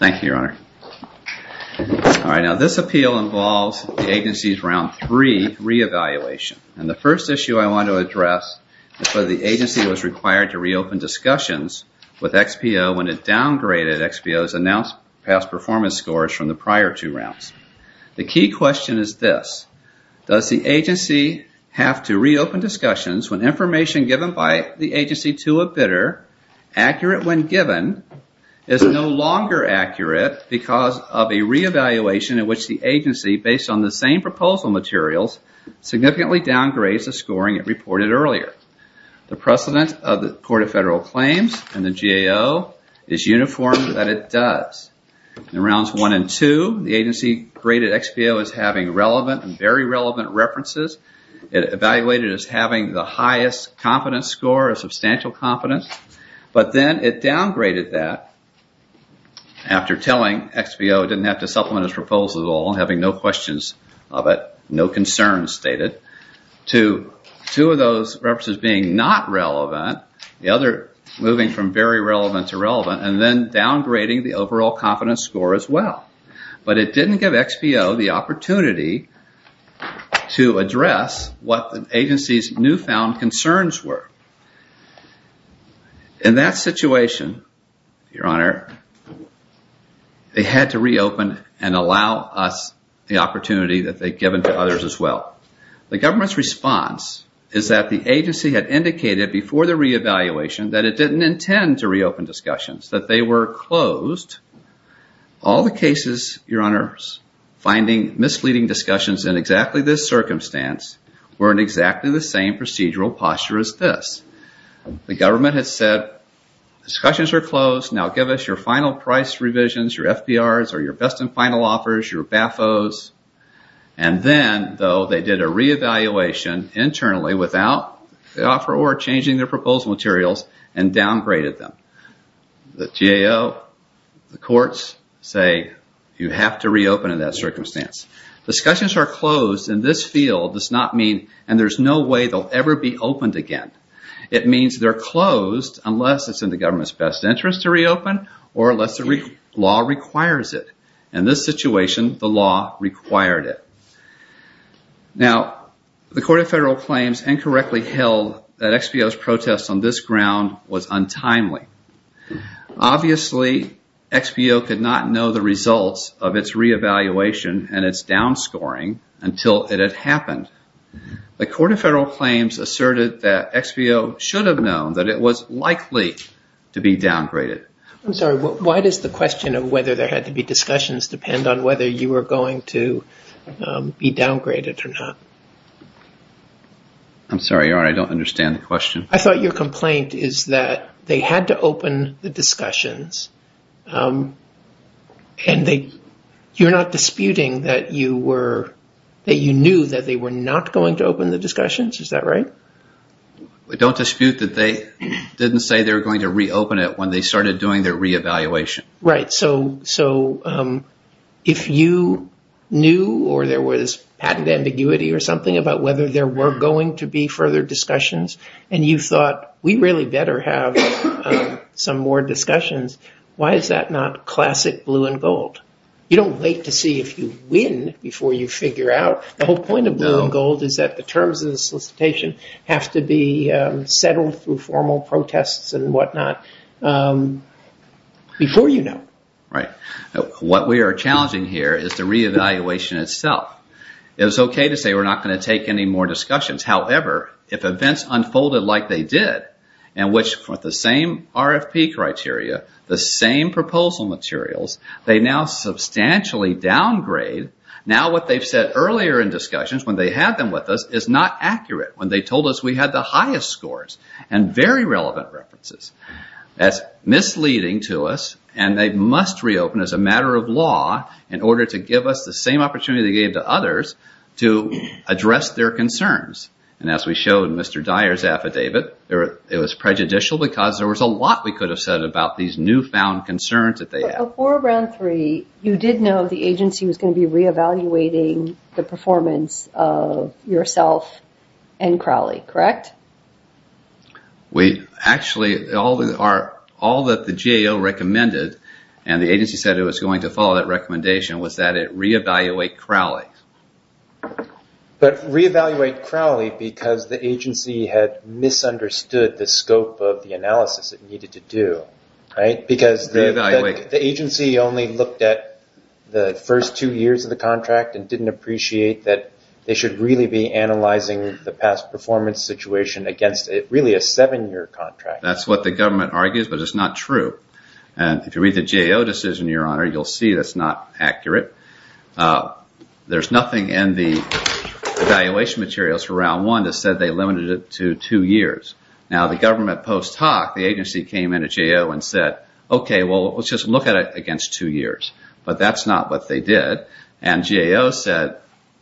Thank you, Your Honor. This appeal involves the agency's Round 3 re-evaluation. The first XPO when it downgraded XPO's announced past performance scores from the prior two rounds. The key question is this. Does the agency have to re-open discussions when information given by the agency to a bidder, accurate when given, is no longer accurate because of a re-evaluation in which the agency, based on the same proposal materials, significantly downgrades the XPO and the GAO is uniform that it does. In rounds 1 and 2, the agency graded XPO as having relevant and very relevant references. It evaluated as having the highest confidence score, a substantial confidence, but then it downgraded that after telling XPO it didn't have to supplement its proposal at all, having no questions of it, no concerns stated, to two of those references being not relevant, the other moving from very relevant to relevant, and then downgrading the overall confidence score as well. But it didn't give XPO the opportunity to address what the agency's newfound concerns were. In that situation, Your Honor, they had to re-open and allow us the opportunity that they'd given to others as well. The government's response is that the agency had indicated before the re-evaluation that it didn't intend to re-open discussions, that they were closed. All the cases, Your Honors, finding misleading discussions in exactly this circumstance were in exactly the same procedural posture as this. The government had said, discussions are closed, now give us your final price revisions, your FPRs, or your best and final offers, your BFOs. And then, though, they did a re-evaluation internally without the offeror changing their proposal materials and downgraded them. The GAO, the courts say, you have to re-open in that circumstance. Discussions are closed in this field does not mean, and there's no way they'll ever be opened again. It means they're closed unless it's in the government's best interest to re-open or unless the law requires it. In this situation, the law required it. Now, the Court of Federal Claims incorrectly held that XBO's protest on this ground was untimely. Obviously, XBO could not know the results of its re-evaluation and its downscoring until it had happened. The question of whether there had to be discussions depend on whether you were going to be downgraded or not. I'm sorry, Your Honor, I don't understand the question. I thought your complaint is that they had to open the discussions and you're not disputing that you knew that they were not going to open the discussions, is that right? I don't dispute that they didn't say they were going to re-open it when they started doing their re-evaluation. Right, so if you knew or there was patent ambiguity or something about whether there were going to be further discussions and you thought, we really better have some more discussions, why is that not classic blue and gold? You don't wait to see if you win before you figure out. The whole point of blue and gold is that the terms of the solicitation have to be settled through formal protests and what not before you know. What we are challenging here is the re-evaluation itself. It's okay to say we're not going to take any more discussions. However, if events unfolded like they did and which with the same RFP criteria, the same proposal materials, they now substantially downgrade, now what they've said earlier in discussions when they had them with us is not accurate when they told us we had the highest scores and very relevant references. That's misleading to us and they must re-open as a matter of law in order to give us the same opportunity they gave to others to address their concerns. As we showed in Mr. Dyer's affidavit, it was prejudicial because there was a lot we could have said about these newfound concerns that they had. Before Round 3, you did know the agency was going to be re-evaluating the performance of yourself and yourself. Actually, all that the GAO recommended and the agency said it was going to follow that recommendation was that it re-evaluate Crowley. Re-evaluate Crowley because the agency had misunderstood the scope of the analysis it needed to do. The agency only looked at the first two years of the contract and didn't appreciate that they should really be analyzing the past performance situation against really a seven-year contract. That's what the government argues but it's not true. If you read the GAO decision, you'll see it's not accurate. There's nothing in the evaluation materials for Round 1 that said they limited it to two years. The government post-talk, the agency came in at GAO and said, okay, let's just look at it for two years. But that's not what they did. GAO said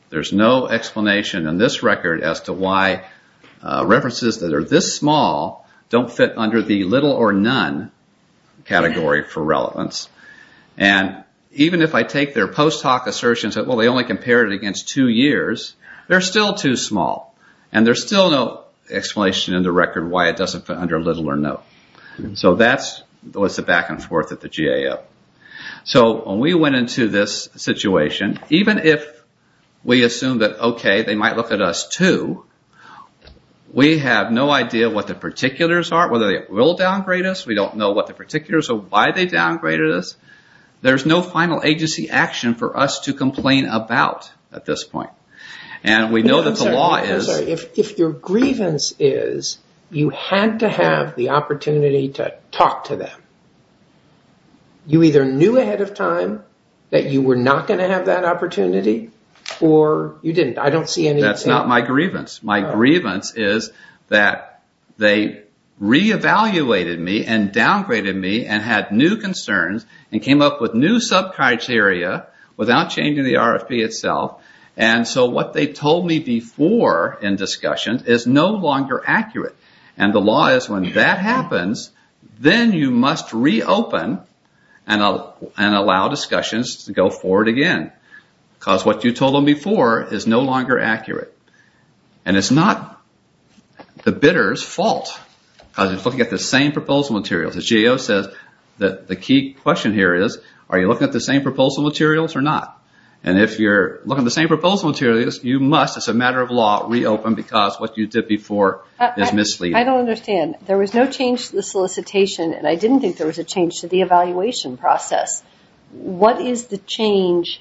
there's no explanation in this record as to why references that are this small don't fit under the little or none category for relevance. Even if I take their post-talk assertions that they only compared it against two years, they're still too small. There's still no explanation in the record why it doesn't fit under little or none. That's the back and forth of the GAO. When we went into this situation, even if we assume that, okay, they might look at us too, we have no idea what the particulars are, whether they will downgrade us. We don't know what the particulars or why they downgraded us. There's no final agency action for us to complain about at this point. We know that the law is... If your grievance is you had to have the opportunity to talk to them, you either knew ahead of time that you were not going to have that opportunity or you didn't. I don't see any... That's not my grievance. My grievance is that they re-evaluated me and downgraded me and had new concerns and came up with new sub-criteria without changing the RFP itself. And so what they told me before in discussion is no longer accurate. And the law is when that happens, then you must reopen and allow discussions to go forward again. Because what you told them before is no longer accurate. And it's not the bidder's fault. Because it's looking at the same proposal materials. The GAO says that the key question here is are you looking at the same proposal materials or not? And if you're looking at the same proposal materials, you must, as a matter of law, reopen because what you did before is misleading. I don't understand. There was no change to the solicitation and I didn't think there was a change to the evaluation process. What is the change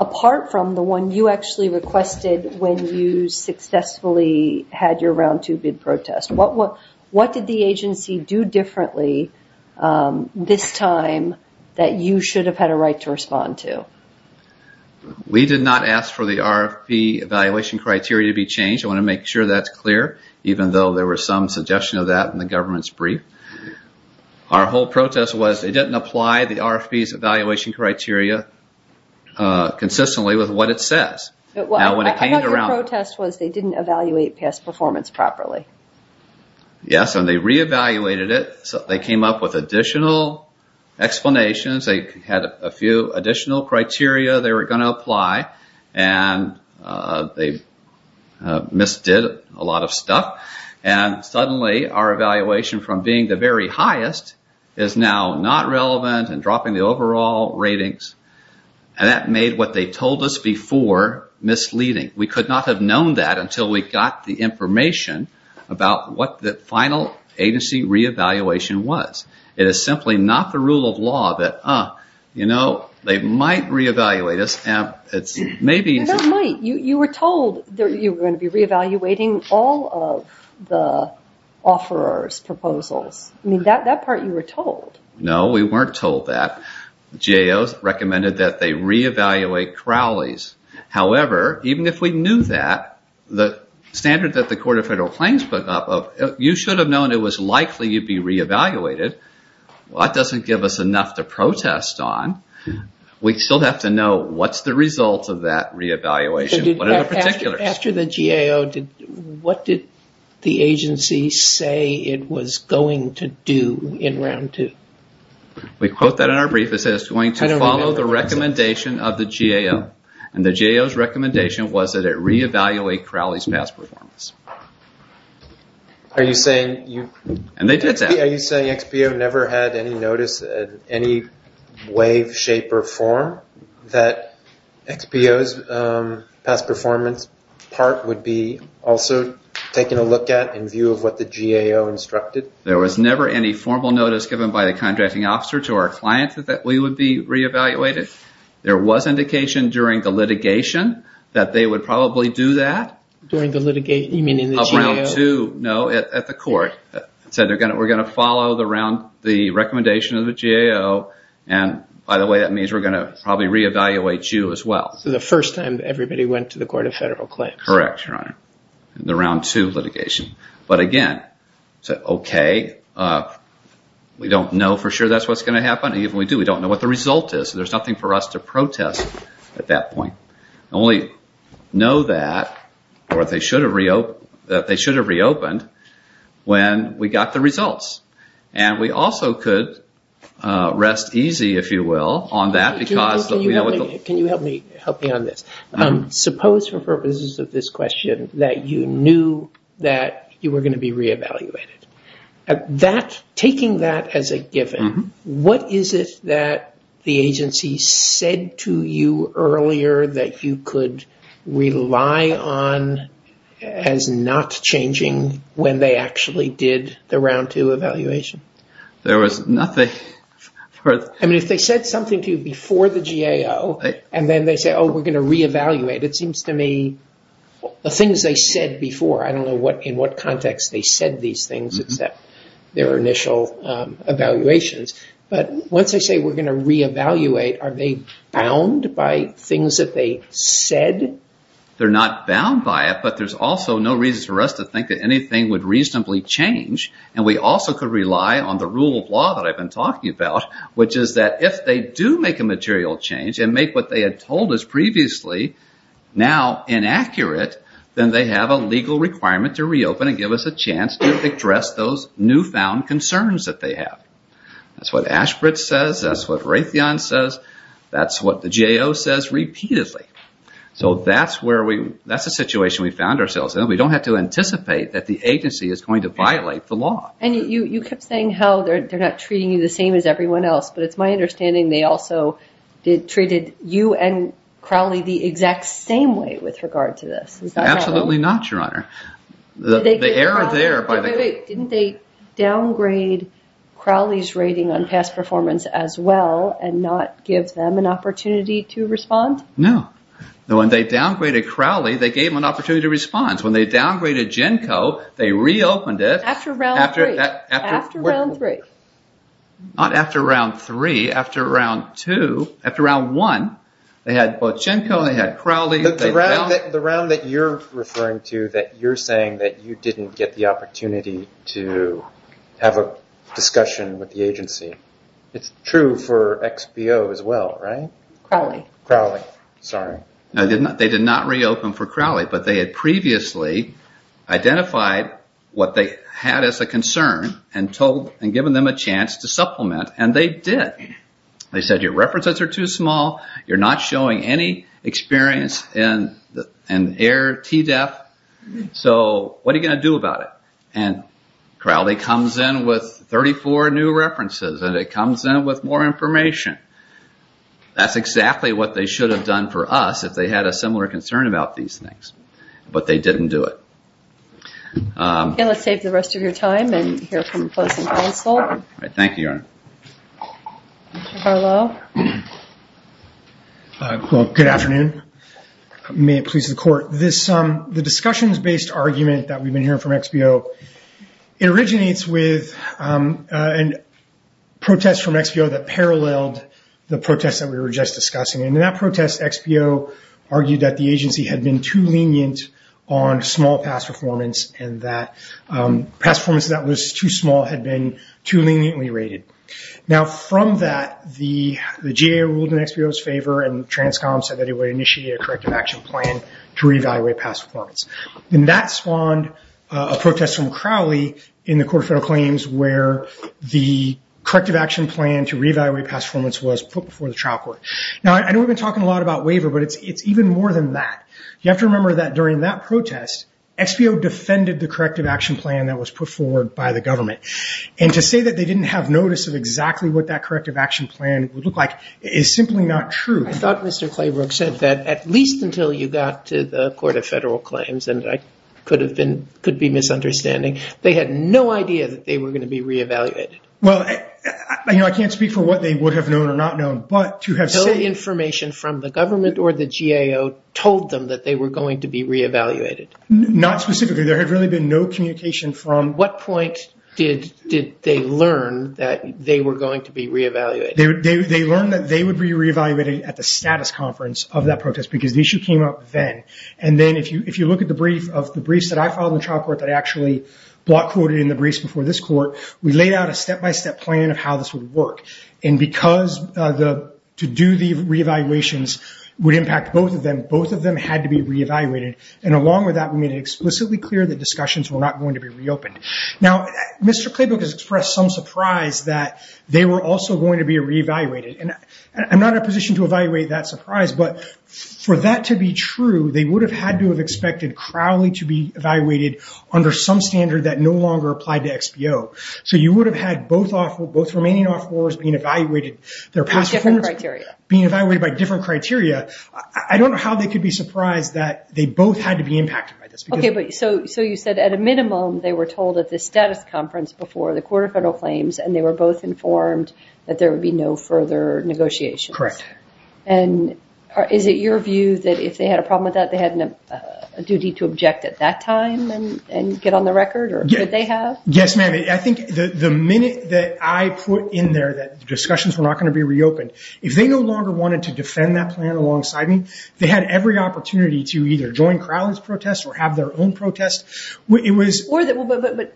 apart from the one you actually requested when you successfully had your round two bid protest? What did the agency do differently this time that you should have had a right to respond to? We did not ask for the RFP evaluation criteria to be changed. I want to make sure that's clear even though there was some suggestion of that in the government's brief. Our whole protest was they didn't apply the RFP's evaluation criteria consistently with what it says. I know your protest was they didn't evaluate past performance properly. Yes, and they re-evaluated it. They came up with additional explanations. They had a few additional criteria they were going to apply. And they misdid a lot of stuff. And suddenly our evaluation from being the very highest is now not relevant and dropping the overall ratings. And that made what they told us before misleading. We could not have known that until we got the information about what the final agency re-evaluation was. It is simply not the rule of law that they might re-evaluate us. They might. You were told you were going to be re-evaluating all of the offerors' proposals. That part you were told. No, we weren't told that. GAO recommended that they re-evaluate Crowley's. However, even if we knew that, the standard that the Court of Federal Claims put up, you should have known it was likely you'd be re-evaluated. That doesn't give us enough to protest on. We still have to know what's the result of that re-evaluation. What are the particulars? After the GAO, what did the agency say it was going to do in round two? We quote that in our brief. It says it's going to follow the recommendation of the GAO. And the GAO's recommendation was that it re-evaluate Crowley's past performance. Are you saying XPO never had any notice in any way, shape, or form that XPO's past performance part would be also taken a look at in view of what the GAO instructed? There was never any formal notice given by the contracting officer to our client that we would be re-evaluated. There was indication during the litigation that they would probably do that. During the litigation? You mean in the GAO? No, at the court. It said we're going to follow the recommendation of the GAO. And by the way, that means we're going to probably re-evaluate you as well. So the first time everybody went to the Court of Federal Claims? Correct, Your Honor, in the round two litigation. But again, okay, we don't know for sure that's what's going to happen. Even if we do, we don't know what the result is. So there's nothing for us to do. We're going to have to wait until the case is reopened when we got the results. And we also could rest easy, if you will, on that. Can you help me on this? Suppose for purposes of this question that you knew that you were going to be re-evaluated. Taking that as a given, what is it that the agency said to you earlier that you could rely on as not changing when they actually did the round two evaluation? There was nothing. I mean, if they said something to you before the GAO and then they say, oh, we're going to re-evaluate, it seems to me the things they said before, I don't know in what context they said these things except their initial evaluations. But once they say we're going to re-evaluate, are they bound by things that they said? They're not bound by it, but there's also no reason for us to think that anything would reasonably change. And we also could rely on the rule of law that I've been talking about, which is that if they do make a material change and make what they had told us previously now inaccurate, then they have a legal requirement to reopen and give us a chance to address those things. That's what Raytheon says. That's what the GAO says repeatedly. So that's a situation we found ourselves in. We don't have to anticipate that the agency is going to violate the law. And you kept saying how they're not treating you the same as everyone else, but it's my understanding they also treated you and Crowley the exact same way with regard to this. Absolutely not, Your Honor. Did they downgrade Crowley's rating on past performance as well and not give them an opportunity to respond? No. When they downgraded Crowley, they gave them an opportunity to respond. When they downgraded GENCO, they reopened it. After round three. After round three. Not after round three. After round two. After round one, they had both GENCO and Crowley. The round that you're referring to, that you're saying that you didn't get the opportunity to have a discussion with the agency. It's true for XBO as well, right? Crowley. Crowley. Sorry. They did not reopen for Crowley, but they had previously identified what they had as a concern and given them a chance to supplement, and they did. They said your experience in air TDEF, so what are you going to do about it? Crowley comes in with 34 new references and it comes in with more information. That's exactly what they should have done for us if they had a similar concern about these things, but they didn't do it. Let's save the rest of your time and hear from the closing counsel. Thank you, Your Honor. Mr. Harlow. Well, good afternoon. May it please the court. The discussions-based argument that we've been hearing from XBO, it originates with a protest from XBO that paralleled the protest that we were just discussing. In that protest, XBO argued that the agency had been too lenient on small pass performance and that pass performance that was too small had been too leniently rated. Now from that, the GA ruled in XBO's favor and Transcom said that it would initiate a corrective action plan to re-evaluate pass performance. That spawned a protest from Crowley in the Court of Federal Claims where the corrective action plan to re-evaluate pass performance was put before the trial court. Now, I know we've been talking a lot about waiver, but it's even more than that. You have to remember that during that protest, XBO defended the corrective action plan that was put forward by the government. And to say that they didn't have notice of exactly what that corrective action plan would look like is simply not true. I thought Mr. Claybrook said that at least until you got to the Court of Federal Claims, and I could be misunderstanding, they had no idea that they were going to be re-evaluated. Well, I can't speak for what they would have known or not known, but to have- No information from the government or the GAO told them that they were going to be re-evaluated. Not specifically. There had really been no communication from- What point did they learn that they were going to be re-evaluated? They learned that they would be re-evaluated at the status conference of that protest because the issue came up then. And then if you look at the brief of the briefs that I filed in the trial court that actually block quoted in the briefs before this court, we laid out a step-by-step plan of how this would work. And because to do the re-evaluations would impact both of them, both of them had to be re-evaluated. And along with that, we made it explicitly clear that discussions were not going to be reopened. Now, Mr. Claybrook has expressed some surprise that they were also going to be re-evaluated. And I'm not in a position to evaluate that surprise, but for that to be true, they would have had to have expected Crowley to be evaluated under some standard that no longer applied to XBO. So you would have had both remaining wars being evaluated by different criteria. I don't know how they could be surprised that they both had to be impacted by this. Okay, but so you said at a minimum, they were told at the status conference before the court of federal claims and they were both informed that there would be no further negotiations. Correct. And is it your view that if they had a problem with that, they had a duty to object at that time and get on the record that they have? Yes, ma'am. I think the minute that I put in there that discussions were not going to be reopened, if they no longer wanted to defend that plan alongside me, they had every opportunity to either join Crowley's protest or have their own protest. But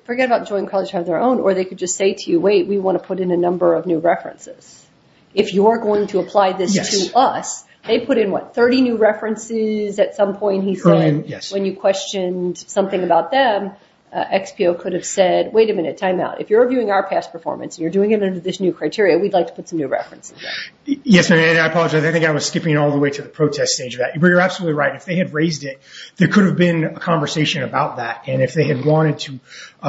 forget about joining Crowley's protest or have their own, or they could just say to you, wait, we want to put in a number of new references. If you're going to apply this to us, they put in, what, 30 new references at some point, he said, when you questioned something about them, XPO could have said, wait a minute, timeout. If you're reviewing our past performance and you're doing it under this new criteria, we'd like to put some new references. Yes, ma'am. And I apologize. I think I was skipping all the way to the protest stage of that. But you're absolutely right. If they had raised it, there could have been a conversation about that. And if they had wanted to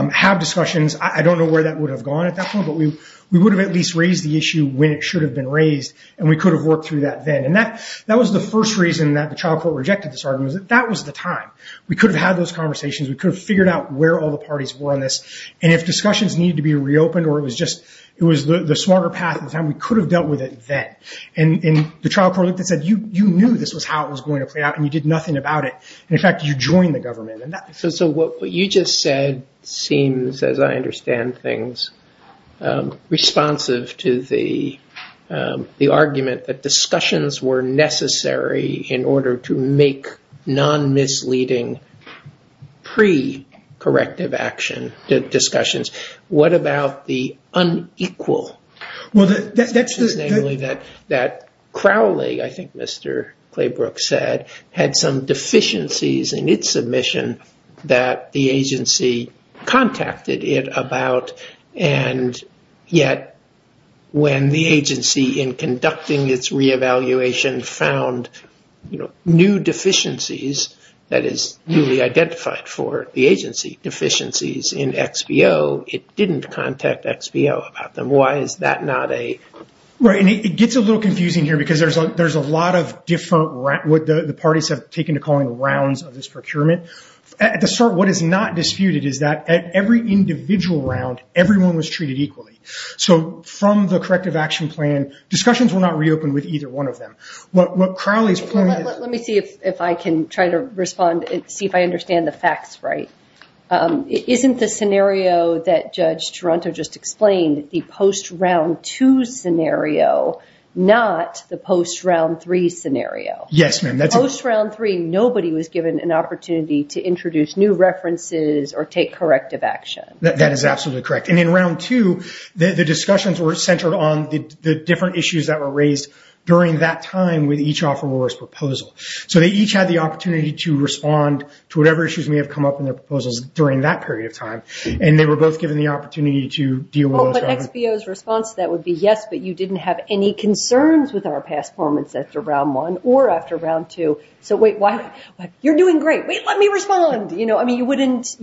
have discussions, I don't know where that would have gone at that point, but we would have at least raised the issue when it should have been raised and we could have worked through that then. And that was the first reason that the could have figured out where all the parties were on this. And if discussions needed to be reopened, or it was just, it was the smarter path at the time, we could have dealt with it then. And the trial court looked and said, you knew this was how it was going to play out and you did nothing about it. And in fact, you joined the government. So what you just said seems, as I understand things, responsive to the argument that discussions were necessary in order to make non-misleading pre-corrective action discussions. What about the unequal? That Crowley, I think Mr. Claybrook said, had some deficiencies in its submission that the agency contacted it about. And yet when the agency in conducting its re-evaluation found new deficiencies that is newly identified for the agency deficiencies in XBO, it didn't contact XBO about them. Why is that not a... Right. And it gets a little confusing here because there's a lot of different, what the parties have taken to calling rounds of this procurement. At the start, what is not disputed is that at every individual round, everyone was treated equally. So from the What Crowley's point is... Let me see if I can try to respond and see if I understand the facts right. Isn't the scenario that Judge Toronto just explained, the post round two scenario, not the post round three scenario? Yes, ma'am. Post round three, nobody was given an opportunity to introduce new references or take corrective action. That is absolutely correct. And in round two, the discussions were centered on the each offeror's proposal. So they each had the opportunity to respond to whatever issues may have come up in their proposals during that period of time. And they were both given the opportunity to deal with those... But XBO's response to that would be, yes, but you didn't have any concerns with our past performance after round one or after round two. So wait, you're doing great. Wait, let me respond. You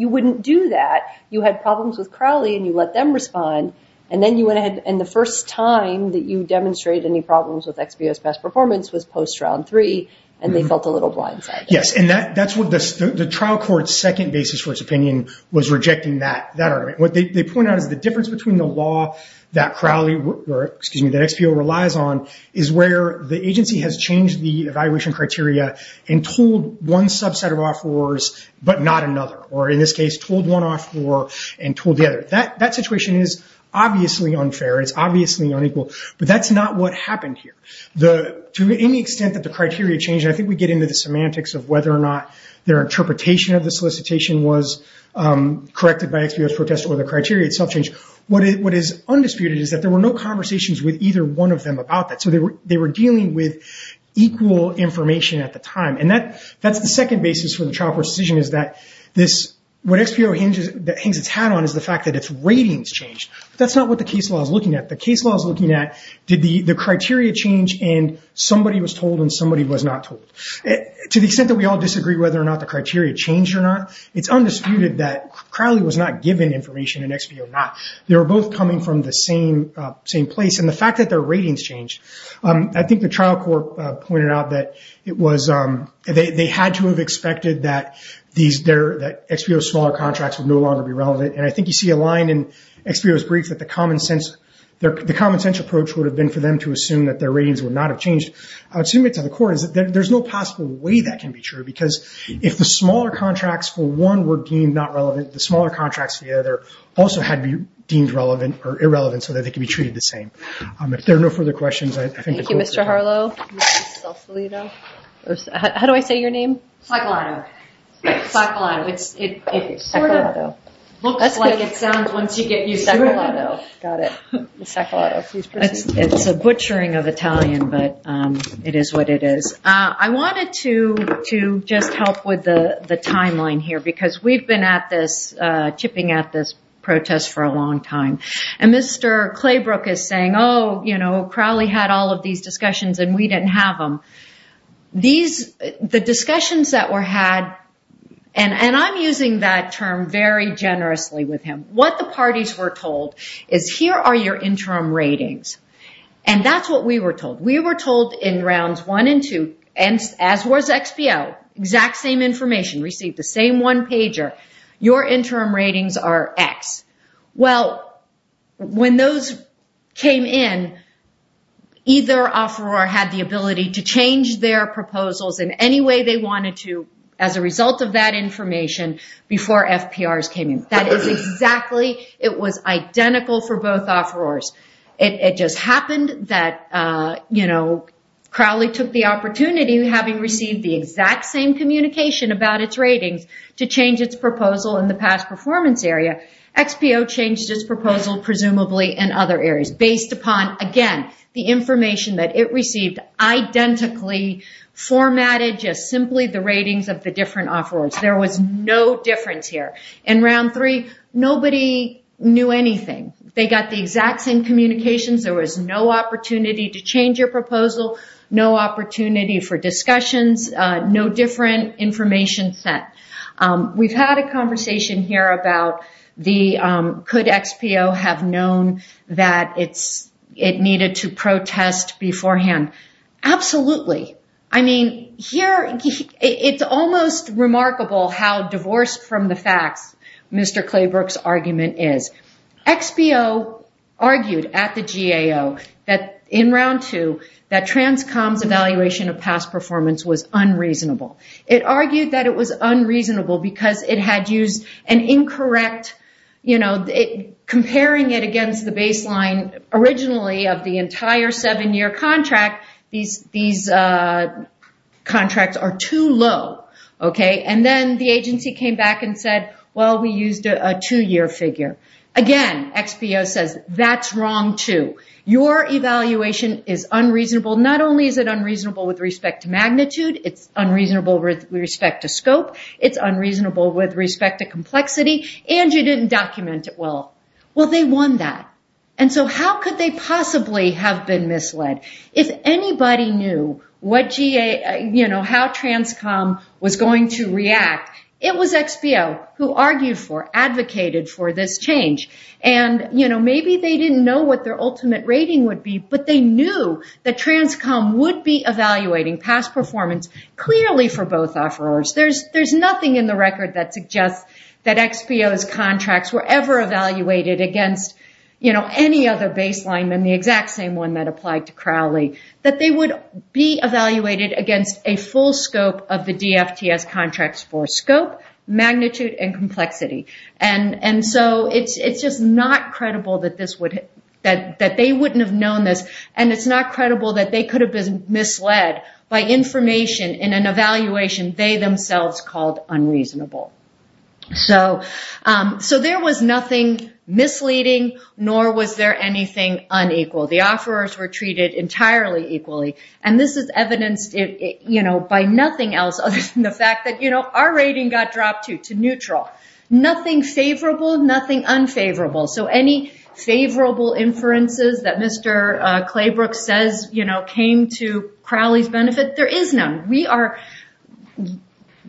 wouldn't do that. You had problems with Crowley and you let them respond. And then you went ahead and the first time that you demonstrated any problems with XBO's past performance was post round three and they felt a little blindsided. Yes. And that's what the trial court's second basis for its opinion was rejecting that argument. What they point out is the difference between the law that Crowley, or excuse me, that XBO relies on is where the agency has changed the evaluation criteria and told one subset of offerors, but not another. Or in this case, told one offeror and told the other. That situation is obviously unfair. It's obviously unequal, but that's not what happened here. To any extent that the criteria changed, I think we get into the semantics of whether or not their interpretation of the solicitation was corrected by XBO's protest or the criteria itself changed. What is undisputed is that there were no conversations with either one of them about that. So they were dealing with equal information at the time. And that's the second basis for the trial court's decision is that what XBO hangs its hat on is the fact that its ratings changed. That's not what the case law is looking at. The case law is looking at did the criteria change and somebody was told and somebody was not told. To the extent that we all disagree whether or not the criteria changed or not, it's undisputed that Crowley was not given information and XBO not. They were both coming from the same place. And the fact that their ratings changed, I think the trial court pointed out that they had to have expected that XBO's smaller contracts would no longer be relevant. And I think you see a line in XBO's brief that the common sense approach would have been for them to assume that their ratings would not have changed. I would assume it to the court is that there's no possible way that can be true. Because if the smaller contracts for one were deemed not relevant, the smaller contracts for the other also had to be deemed relevant or irrelevant so that they can be treated the same. If there are no further questions, I think the court... Thank you, Mr. Harlow. How do I say your name? Staccolato. Staccolato. It sort of looks like it sounds once you get used to it. Staccolato. Got it. Staccolato. It's a butchering of Italian, but it is what it is. I wanted to just help with the timeline here because we've been at this, chipping at this protest for a long time. And Mr. Claybrook is saying, oh, Crowley had all of these discussions and we didn't have them. The discussions that were had, and I'm using that term very generously with him. What the parties were told is, here are your interim ratings. And that's what we were told. We were told in rounds one and two, and as was XPO, exact same information, received the same one pager. Your interim ratings are X. Well, when those came in, either offeror had the ability to change their proposals in any way they wanted to as a result of that information before FPRs came in. That is exactly, it was identical for both offerors. It just happened that Crowley took the opportunity, having received the exact same communication about its ratings, to change its proposal in the past performance area. XPO changed its proposal, presumably, in other areas based upon, again, the information that it received identically formatted, just simply the ratings of the different offerors. There was no difference here. In round three, nobody knew anything. They got the exact same communications. There was no opportunity to change your proposal, no opportunity for discussions, no different information set. We've had a conversation here about could XPO have known that it needed to protest beforehand. Absolutely. I mean, it's almost remarkable how divorced from the facts Mr. Claybrook's argument is. XPO argued at the GAO in round two that Transcom's evaluation of past performance was unreasonable. It argued that it was unreasonable because it had used an incorrect, comparing it against the baseline originally of the entire seven-year contract, these contracts are too low. And then the agency came back and said, well, we used a two-year figure. Again, XPO says, that's wrong too. Your evaluation is unreasonable. Not only is it unreasonable with respect to magnitude, it's unreasonable with respect to scope, it's unreasonable with respect to complexity, and you didn't document it well. Well, they won that. And so how could they possibly have been misled? If anybody knew how Transcom was going to react, it was XPO who argued for, advocated for this change. And maybe they didn't know what their ultimate rating would be, but they knew that Transcom would be evaluating past performance clearly for both offerors. There's nothing in the record that suggests that XPO's contracts were ever evaluated against any other baseline than the exact same one that applied to Crowley, that they would be evaluated against a full scope of the DFTS contracts for scope, magnitude, and complexity. And so it's just not credible that they wouldn't have known this. And it's not credible that they could have been misled by information in an evaluation they themselves called unreasonable. So there was nothing misleading, nor was there anything unequal. The offerors were treated entirely equally. And this is evidenced by nothing else other than the fact that our rating got dropped to neutral. Nothing favorable, nothing unfavorable. So any favorable inferences that Mr. Claybrook says came to Crowley's benefit, there is none.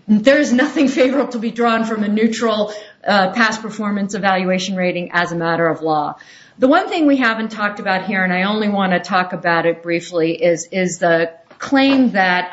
There is nothing favorable to be drawn from a neutral past performance evaluation rating as a matter of law. The one thing we haven't talked about here, and I only want to talk about it briefly, is the claim that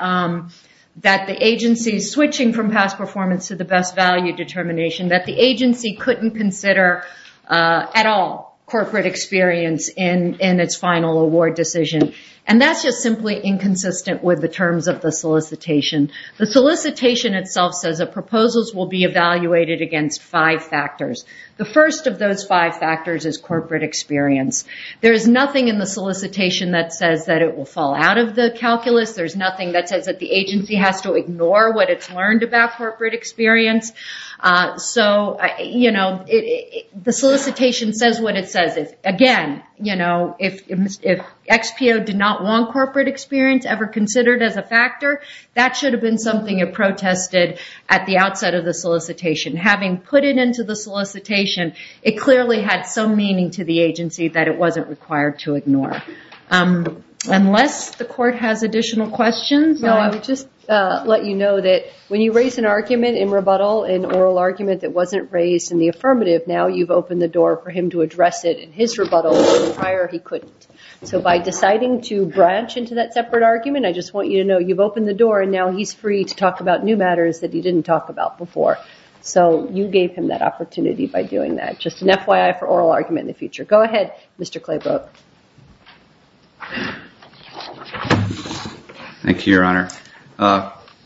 the agency switching from past performance to the best value determination, that the agency couldn't consider at all corporate experience in its final award decision. And that's just simply inconsistent with the terms of the solicitation. The solicitation itself says that proposals will be evaluated against five factors. The first of those five factors is corporate experience. There is nothing in the solicitation that says that it will fall out of the calculus. There's nothing that says that the agency has to ignore what it's learned about corporate experience. So the solicitation says what it says. Again, if XPO did not want corporate experience ever considered as a factor, that should have been something it protested at the outset of the solicitation. Having put it into the solicitation, it clearly had some meaning to the agency that it wasn't required to ignore. Unless the court has additional questions? No, I would just let you know that when you raise an argument in rebuttal, an oral argument that wasn't raised in the affirmative, now you've opened the door for him to address it in his rebuttal where prior he couldn't. So by deciding to branch into that separate argument, I just want you to know you've opened the door and now he's free to talk about new matters that he didn't talk about before. So you gave him that opportunity by doing that. Just an FYI for oral argument in the future. Go ahead, Mr. Claybrook. Thank you, Your Honor.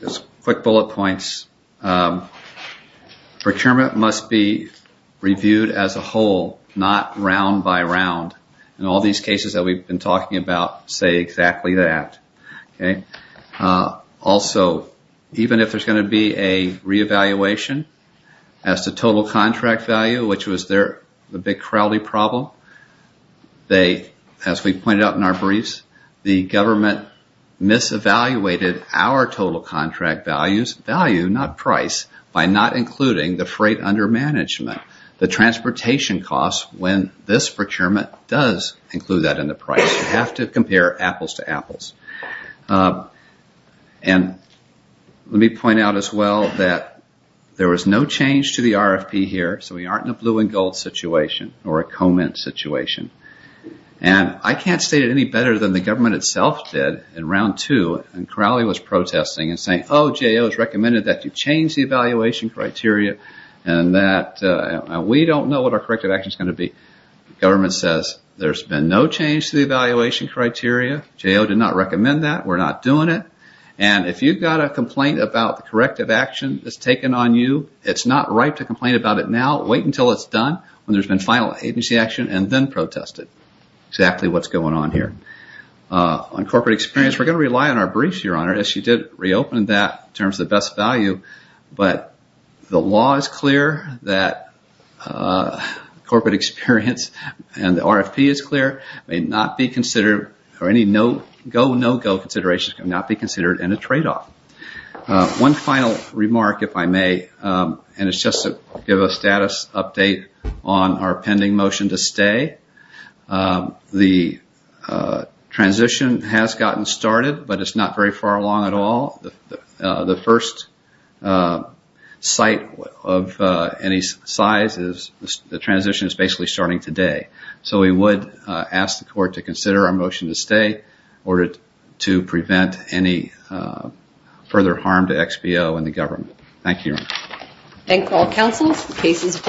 Just quick bullet points. Procurement must be reviewed as a whole, not round by round. In all these cases that we've been talking about, say exactly that. Also, even if there's going to be a reevaluation as to total contract value, which was the big crowdy problem, as we pointed out in our briefs, the government mis-evaluated our total contract value, not price, by not including the freight under management, the transportation costs when this procurement does include that in the price. You have to compare apples to apples. Let me point out as well that there was no change to the RFP here, so we aren't in a blue and gold situation or a comment situation. And I can't state it any better than the government itself did in round two when Crowley was protesting and saying, oh, J.O. has recommended that you change the evaluation criteria and that we don't know what our corrective action is going to be. Government says there's been no change to the evaluation criteria. J.O. did not recommend that. We're not doing it. And if you've got a complaint about the corrective action that's taken on you, it's not right to complain about it now. Wait until it's done when there's been final agency action and then protest it. Exactly what's going on here. On corporate experience, we're going to rely on our briefs, Your Honor, as you did reopen that in terms of the best value, but the law is clear that corporate experience and the RFP is clear, may not be considered or any no-go considerations can not be considered in a trade-off. One final remark, if I may, and it's just to give a status update on our pending motion to stay. The transition has gotten started, but it's not very far along at all. The first site of any size is the transition is basically starting today. So we would ask the court to consider our motion to stay in order to prevent any further harm to XBO and the government. Thank you, Your Honor. Thank all counsels.